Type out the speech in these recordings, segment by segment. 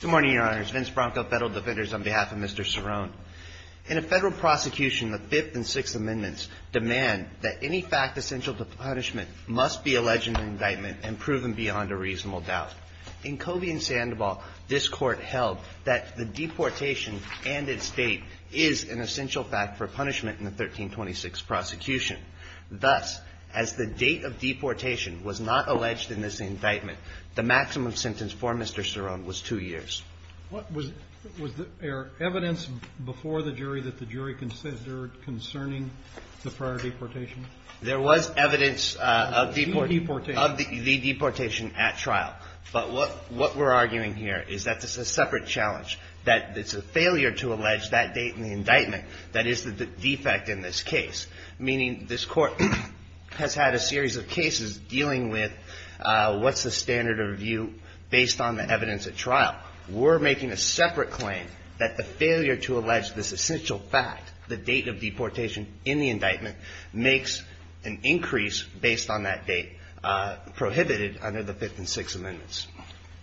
Good morning, Your Honors. Vince Bronco, Federal Defenders, on behalf of Mr. Ceron. In a federal prosecution, the Fifth and Sixth Amendments demand that any fact essential to punishment must be alleged in an indictment and proven beyond a reasonable doubt. In Covey and Sandoval, this Court held that the deportation and its date is an essential fact for punishment in the 1326 prosecution. Thus, as the date of deportation was not alleged in this indictment, the maximum sentence for Mr. Ceron was two years. THE COURT READ Was there evidence before the jury that the jury considered concerning the prior deportation? VINCE BRONCO There was evidence of the deportation at trial, but what we're arguing here is that this is a separate challenge, that it's a failure to allege that date in the indictment that is the defect in this case, meaning this Court has had a series of cases dealing with what's the standard of review based on the evidence at trial. We're making a separate claim that the failure to allege this essential fact, the date of deportation in the indictment, makes an increase based on that date prohibited under the Fifth and Sixth Amendments.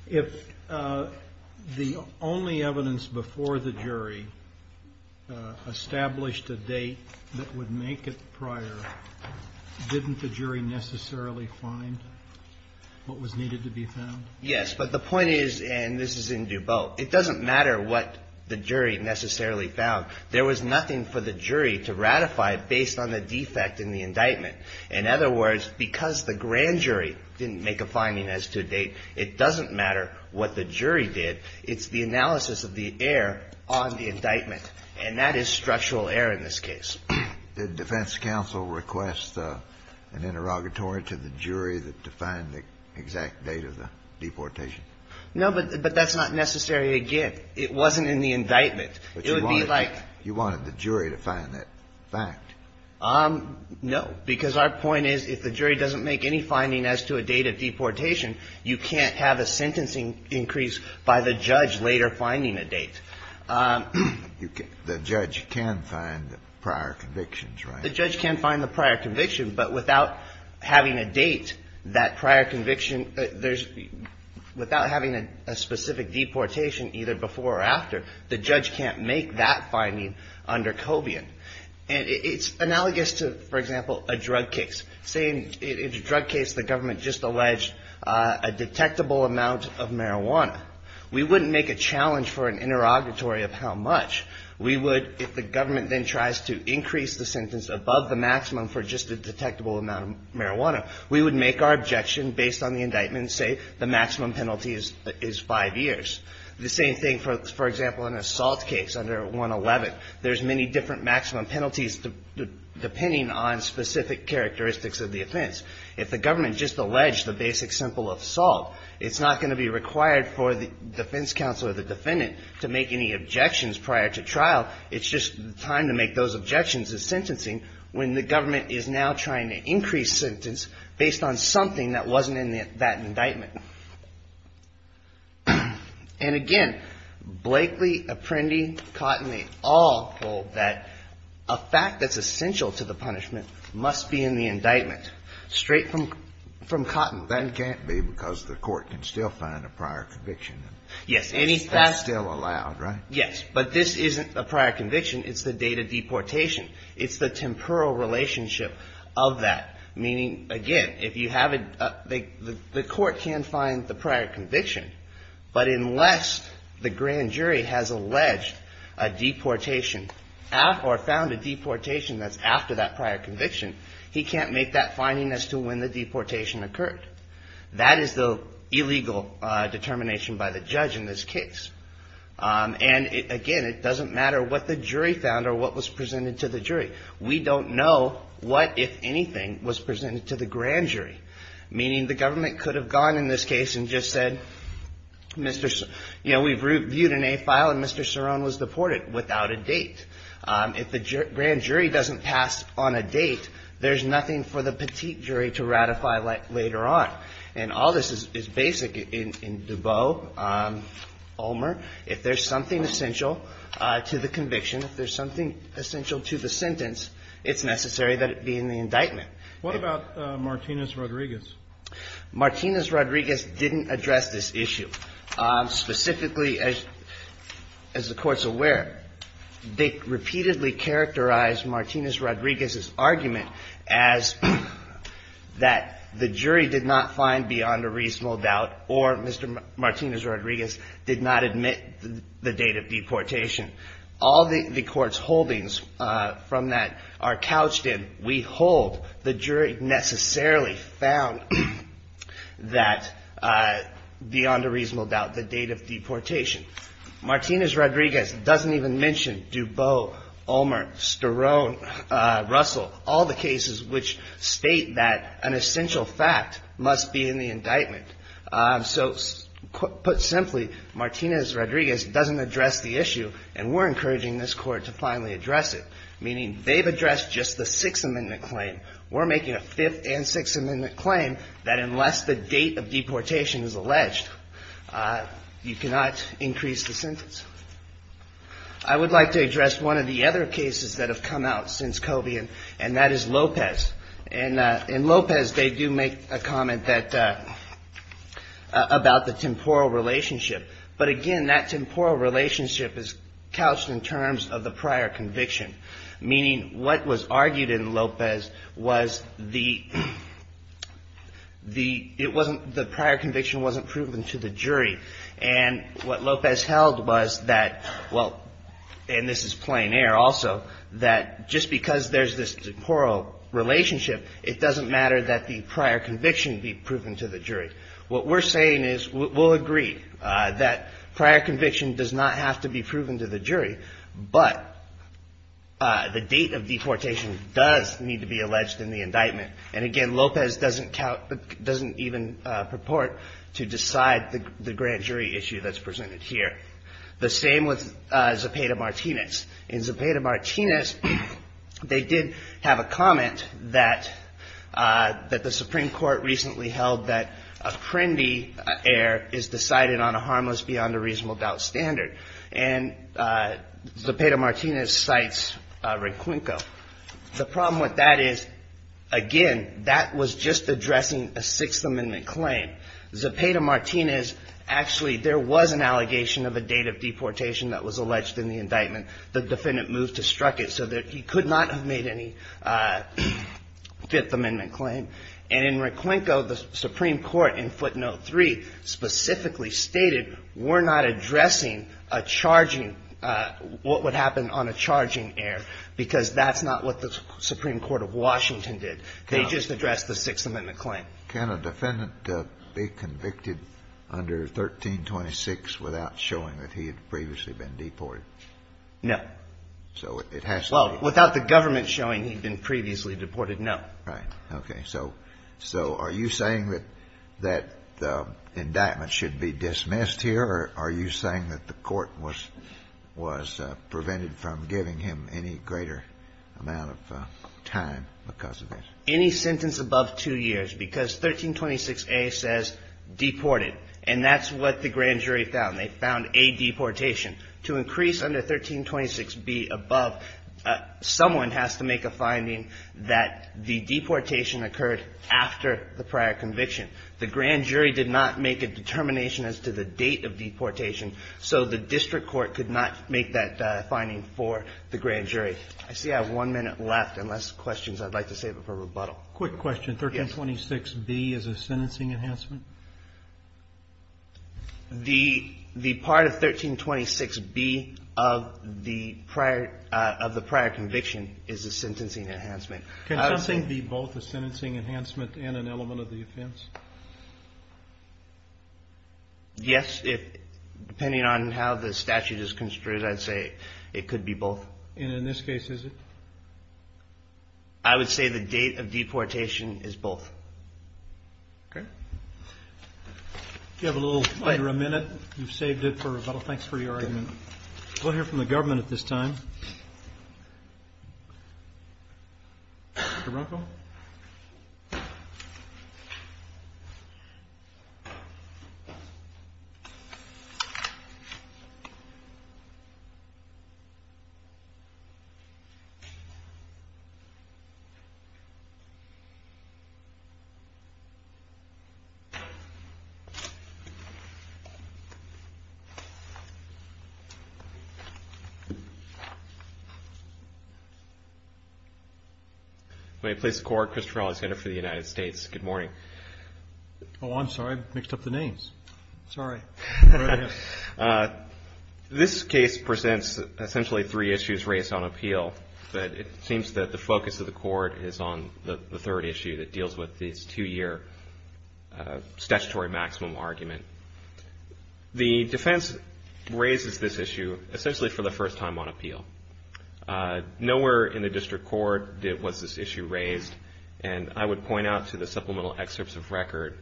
THE COURT READ If the only evidence before the jury established a date that would make it prior, didn't the jury necessarily find what was needed to be found? VINCE BRONCO Yes, but the point is, and this is in DuBois, it doesn't matter what the jury necessarily found. There was nothing for the jury to ratify based on the defect in the indictment. In other words, because the grand jury didn't make a finding as to a date, it doesn't matter what the jury did. It's the analysis of the error on the indictment, and that is structural error in this case. THE COURT READ Did defense counsel request an interrogatory to the jury to find the exact date of the deportation? VINCE BRONCO No, but that's not necessary again. It wasn't in the indictment. It would be like the jury to find that fact. No, because our point is, if the jury doesn't make any finding as to a date of deportation, you can't have a sentencing increase by the judge later finding a date. THE COURT READ The judge can find the prior convictions, right? VINCE BRONCO The judge can find the prior conviction, but without having a date, that prior conviction, without having a specific deportation either before or after, the judge can't make that finding under Cobian. And it's analogous to, for example, a drug case. Say, in a drug case, the government just alleged a detectable amount of marijuana. We wouldn't make a challenge for an interrogatory of how much. We would, if the government then tries to increase the sentence above the maximum for just a detectable amount of marijuana, we would make our objection based on the indictment, say, the maximum penalty is five years. The same thing, for example, in an assault case under 111. There's many different maximum penalties depending on specific characteristics of the offense. If the government just alleged a basic simple assault, it's not going to be required for the defense counsel or the defendant to make any objections prior to trial. It's just time to make those objections as sentencing when the government is now trying to increase sentence based on something that wasn't in that indictment. And again, Blakely, Apprendi, Cotton, they all hold that a fact that's essential to the punishment must be in the indictment, straight from Cotton. That can't be because the court can still find a prior conviction. Yes. That's still allowed, right? Yes. But this isn't a prior conviction. It's the date of deportation. It's the temporal relationship of that. Meaning, again, the court can find the prior conviction. But unless the grand jury has alleged a deportation or found a deportation that's after that prior conviction, he can't make that finding as to when the deportation occurred. That is the illegal determination by the judge in this case. And again, it doesn't matter what the jury found or what was presented to the jury. We don't know what, if anything, was presented to the grand jury. Meaning, the government could have gone in this case and just said, you know, we've reviewed an A file and Mr. Cerone was deported without a date. If the grand jury doesn't pass on a date, there's nothing for the petite jury to ratify later on. And all this is basic in Dubot, Ulmer. If there's something essential to the conviction, if there's something essential to the sentence, it's necessary that it be in the indictment. What about Martinez-Rodriguez? Martinez-Rodriguez didn't address this issue. Specifically, as the court's aware, they repeatedly characterized Martinez-Rodriguez's argument as that the jury did not find beyond a reasonable doubt or Mr. Martinez-Rodriguez did not admit the date of deportation. All the court's holdings from that are couched in we hold. The jury necessarily found that beyond a reasonable doubt the date of deportation. Martinez-Rodriguez doesn't even mention Dubot, Ulmer, Cerone, Russell, all the cases which state that an essential fact must be in the indictment. So, put simply, Martinez-Rodriguez doesn't address the issue and we're encouraging this court to finally address it. Meaning, they've addressed just the Sixth Amendment claim. We're making a Fifth and Sixth Amendment claim that unless the date of deportation is alleged, you cannot increase the sentence. I would like to address one of the other cases that have come out since Covey and that is Lopez. And in Lopez they do make a comment that, about the temporal relationship. But again, that temporal relationship is couched in terms of the prior conviction. Meaning, what was argued in Lopez was the, the, it wasn't, the prior conviction wasn't proven to the jury. And what Lopez held was that, well, and this is plain air also, that just because there's this temporal relationship, it doesn't matter that the prior conviction be proven to the jury. What we're saying is, we'll agree that prior conviction does not have to be proven to the jury, but the date of deportation does need to be alleged in the indictment. And again, Lopez doesn't count, doesn't even purport to decide the grand jury issue that's presented here. The same with Zepeda-Martinez. In Zepeda-Martinez, they did have a comment that, that the Supreme Court recently held that apprendi air is decided on a harmless beyond a reasonable doubt standard. And Zepeda-Martinez cites Requinco. The problem with that is, again, that was just addressing a Sixth Amendment claim. Zepeda-Martinez, actually, there was an allegation of a date of deportation that was alleged in the indictment. The defendant moved to struck it so that he could not have made any Fifth Amendment claim. And in Requinco, the Supreme Court in footnote three specifically stated, we're not addressing a charging, what would happen on a charging air, because that's not what the Supreme Court of Washington did. They just addressed the Sixth Amendment claim. Can a defendant be convicted under 1326 without showing that he had previously been deported? No. So it has to be. Well, without the government showing he'd been previously deported, no. Right. Okay. So are you saying that the indictment should be dismissed here, or are you saying that the court was prevented from giving him any greater amount of time because of this? Any sentence above two years, because 1326A says deported. And that's what the grand jury found. They found a deportation. To increase under 1326B above, someone has to make a finding that the deportation occurred after the prior conviction. The grand jury did not make a determination as to the date of deportation, so the district court could not make that finding for the grand jury. I see I have one minute left, unless questions. I'd like to save it for rebuttal. Quick question. Yes. 1326B is a sentencing enhancement? The part of 1326B of the prior conviction is a sentencing enhancement. Can something be both a sentencing enhancement and an element of the offense? Yes, depending on how the statute is construed, I'd say it could be both. And in this case, is it? I would say the date of deportation is both. Okay. You have a little under a minute. You've saved it for rebuttal. Thanks for your argument. We'll hear from the government at this time. Mr. Brunkle? May it please the Court? Christopher Alexander for the United States. Good morning. Oh, I'm sorry. I mixed up the names. Sorry. Go right ahead. This case presents essentially three issues raised on appeal, but it seems that the focus of the court is on the third issue that deals with this two-year statutory maximum argument. The defense raises this issue essentially for the first time on appeal. Nowhere in the district court was this issue raised, and I would point out to the supplemental excerpts of record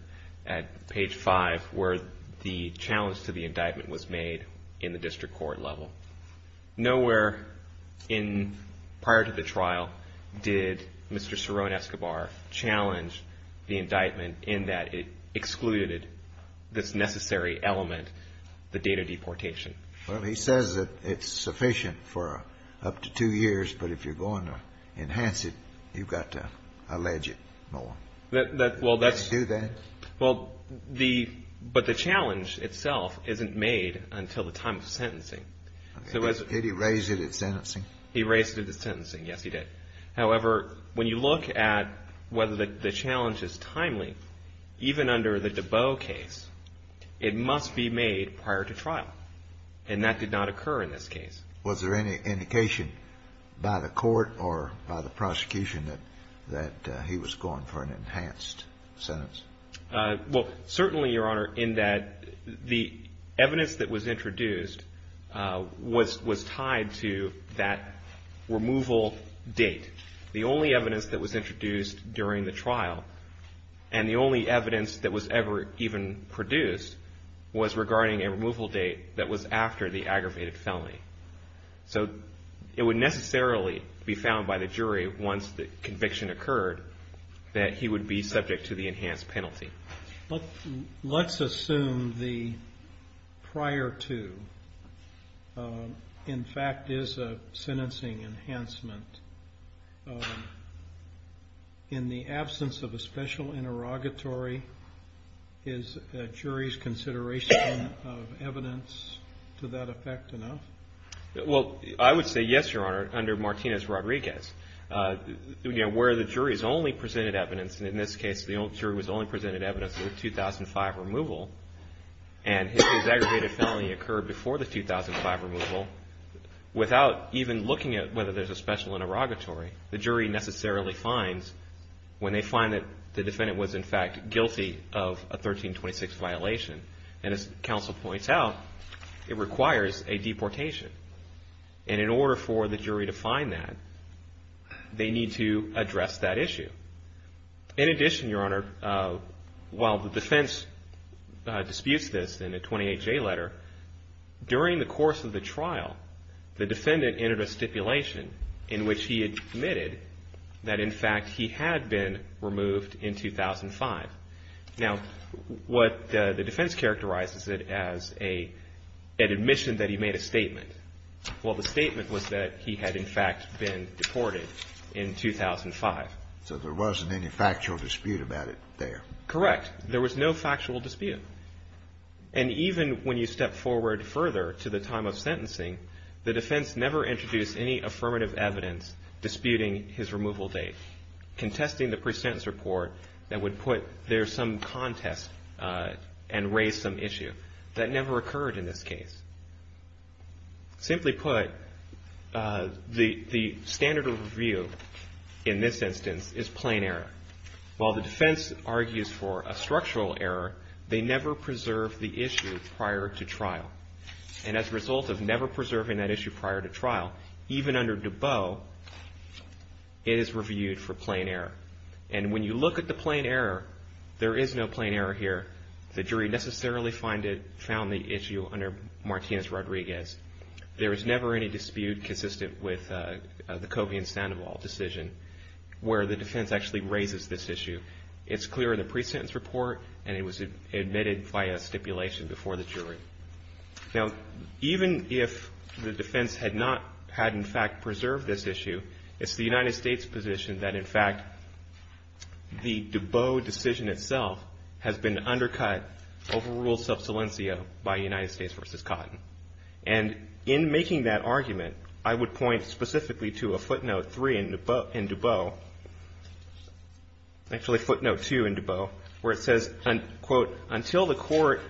at page 5 where the challenge to the indictment was made in the district court level. Nowhere prior to the trial did Mr. Cerrone-Escobar challenge the indictment in that it excluded this necessary element, the date of deportation. Well, he says that it's sufficient for up to two years, but if you're going to enhance it, you've got to allege it more. Well, that's... Can you do that? Well, the... But the challenge itself isn't made until the time of sentencing. Okay. Did he raise it at sentencing? He raised it at sentencing. Yes, he did. However, when you look at whether the challenge is timely, even under the Dabow case, it must be made prior to trial, and that did not occur in this case. Was there any indication by the court or by the prosecution that he was going for an enhanced sentence? Well, certainly, Your Honor, in that the evidence that was introduced was tied to that removal date. The only evidence that was introduced during the trial, and the only evidence that was ever even produced, was regarding a removal date that was after the aggravated felony. So it would necessarily be found by the jury, once the conviction occurred, that he would be subject to the enhanced penalty. Let's assume the prior to, in fact, is a sentencing enhancement. In the absence of a special interrogatory, is a jury's consideration of evidence to that effect enough? Well, I would say yes, Your Honor, under Martinez-Rodriguez. Where the jury's only presented evidence, and in this case the jury was only presented evidence of the 2005 removal, and his aggravated felony occurred before the 2005 removal, without even looking at whether there's a special interrogatory, the jury necessarily finds, when they find that the defendant was, in fact, guilty of a 1326 violation, and as counsel points out, it requires a deportation. And in order for the jury to find that, they need to address that issue. In addition, Your Honor, while the defense disputes this in a 28-J letter, during the course of the trial, the defendant entered a stipulation in which he admitted that, in fact, he had been removed in 2005. Now, what the defense characterizes it as an admission that he made a statement. Well, the statement was that he had, in fact, been deported in 2005. So there wasn't any factual dispute about it there. Correct. There was no factual dispute. And even when you step forward further to the time of sentencing, the defense never introduced any affirmative evidence disputing his removal date, contesting the pre-sentence report that would put there some contest and raise some issue. That never occurred in this case. Simply put, the standard of review in this instance is plain error. While the defense argues for a structural error, they never preserve the issue prior to trial. And as a result of never preserving that issue prior to trial, even under Dubot, it is reviewed for plain error. And when you look at the plain error, there is no plain error here. The jury necessarily found the issue under Martinez-Rodriguez. There was never any dispute consistent with the Covey and Sandoval decision where the defense actually raises this issue. It's clear in the pre-sentence report, and it was admitted via stipulation before the jury. Now, even if the defense had not had, in fact, preserved this issue, it's the United States' position that, in fact, the Dubot decision itself has been undercut over rule sub silencio by United States v. Cotton. And in making that argument, I would point specifically to a footnote 3 in Dubot, actually footnote 2 in Dubot, where it says, quote, until the court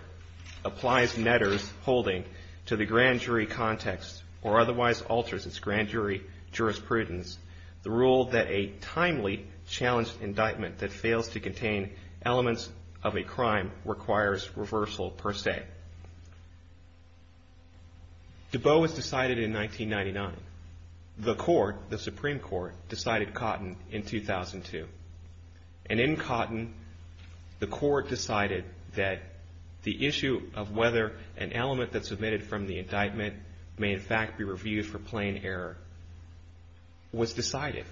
applies Netter's holding to the grand jury context or otherwise alters its grand jury jurisprudence, the rule that a timely challenged indictment that fails to contain elements of a crime requires reversal per se. Dubot was decided in 1999. The court, the Supreme Court, decided Cotton in 2002. And in Cotton, the court decided that the issue of whether an element that's omitted from the indictment may, in fact, be reviewed for plain error was decided.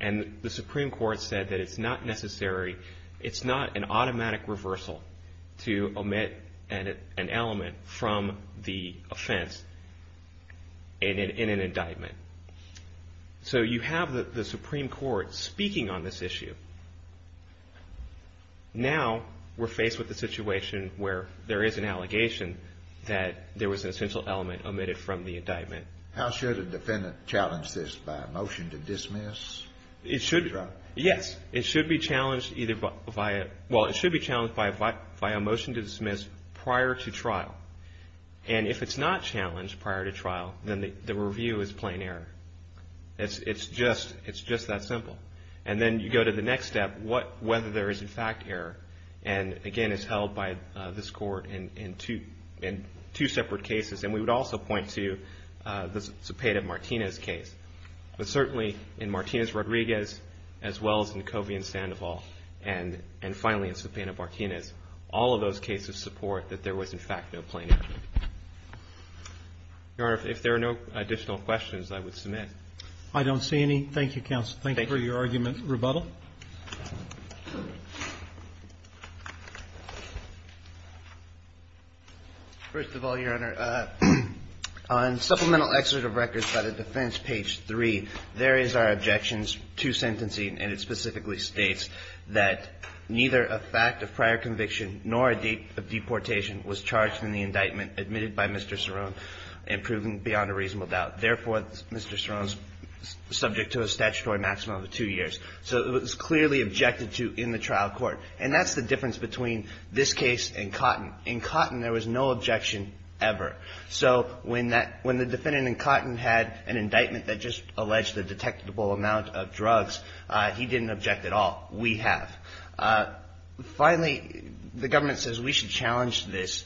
And the Supreme Court said that it's not necessary, it's not an automatic reversal to omit an element from the offense in an indictment. So you have the Supreme Court speaking on this issue. Now we're faced with a situation where there is an allegation that there was an essential element omitted from the indictment. How should a defendant challenge this? By a motion to dismiss? Yes. It should be challenged either by a motion to dismiss prior to trial. And if it's not challenged prior to trial, then the review is plain error. It's just that simple. And then you go to the next step, whether there is, in fact, error. And again, it's held by this court in two separate cases. And we would also point to the Cepeda-Martinez case. But certainly in Martinez-Rodriguez, as well as in Covey and Sandoval, and finally in Cepeda-Martinez, all of those cases support that there was, in fact, no plain error. Your Honor, if there are no additional questions, I would submit. I don't see any. Thank you, counsel. Thank you for your argument. Rebuttal? First of all, Your Honor, on Supplemental Excerpt of Records by the Defense, page 3, there is our objections to sentencing. And it specifically states that neither a fact of prior conviction nor a date of deportation was charged in the indictment admitted by Mr. Cerrone and proven beyond a reasonable doubt. Therefore, Mr. Cerrone is subject to a statutory maximum of two years. So it was clearly objected to in the trial court. And that's the difference between this case and Cotton. In Cotton, there was no objection ever. So when the defendant in Cotton had an indictment that just alleged a detectable amount of drugs, he didn't object at all. We have. Finally, the government says we should challenge this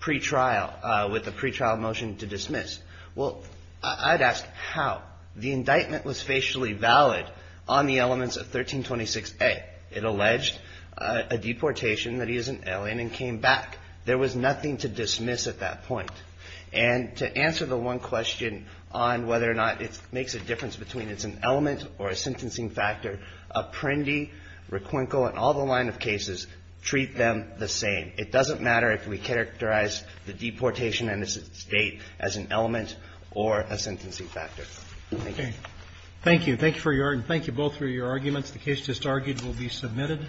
pretrial with a pretrial motion to dismiss. Well, I'd ask how. The indictment was facially valid on the elements of 1326A. It alleged a deportation that he is an alien and came back. There was nothing to dismiss at that point. And to answer the one question on whether or not it makes a difference between it's an element or a sentencing factor, Apprendi, Requinco, and all the line of cases treat them the same. It doesn't matter if we characterize the deportation and its date as an element or a sentencing factor. Thank you. Thank you. Thank you for your argument. Thank you both for your arguments. The case just argued will be submitted.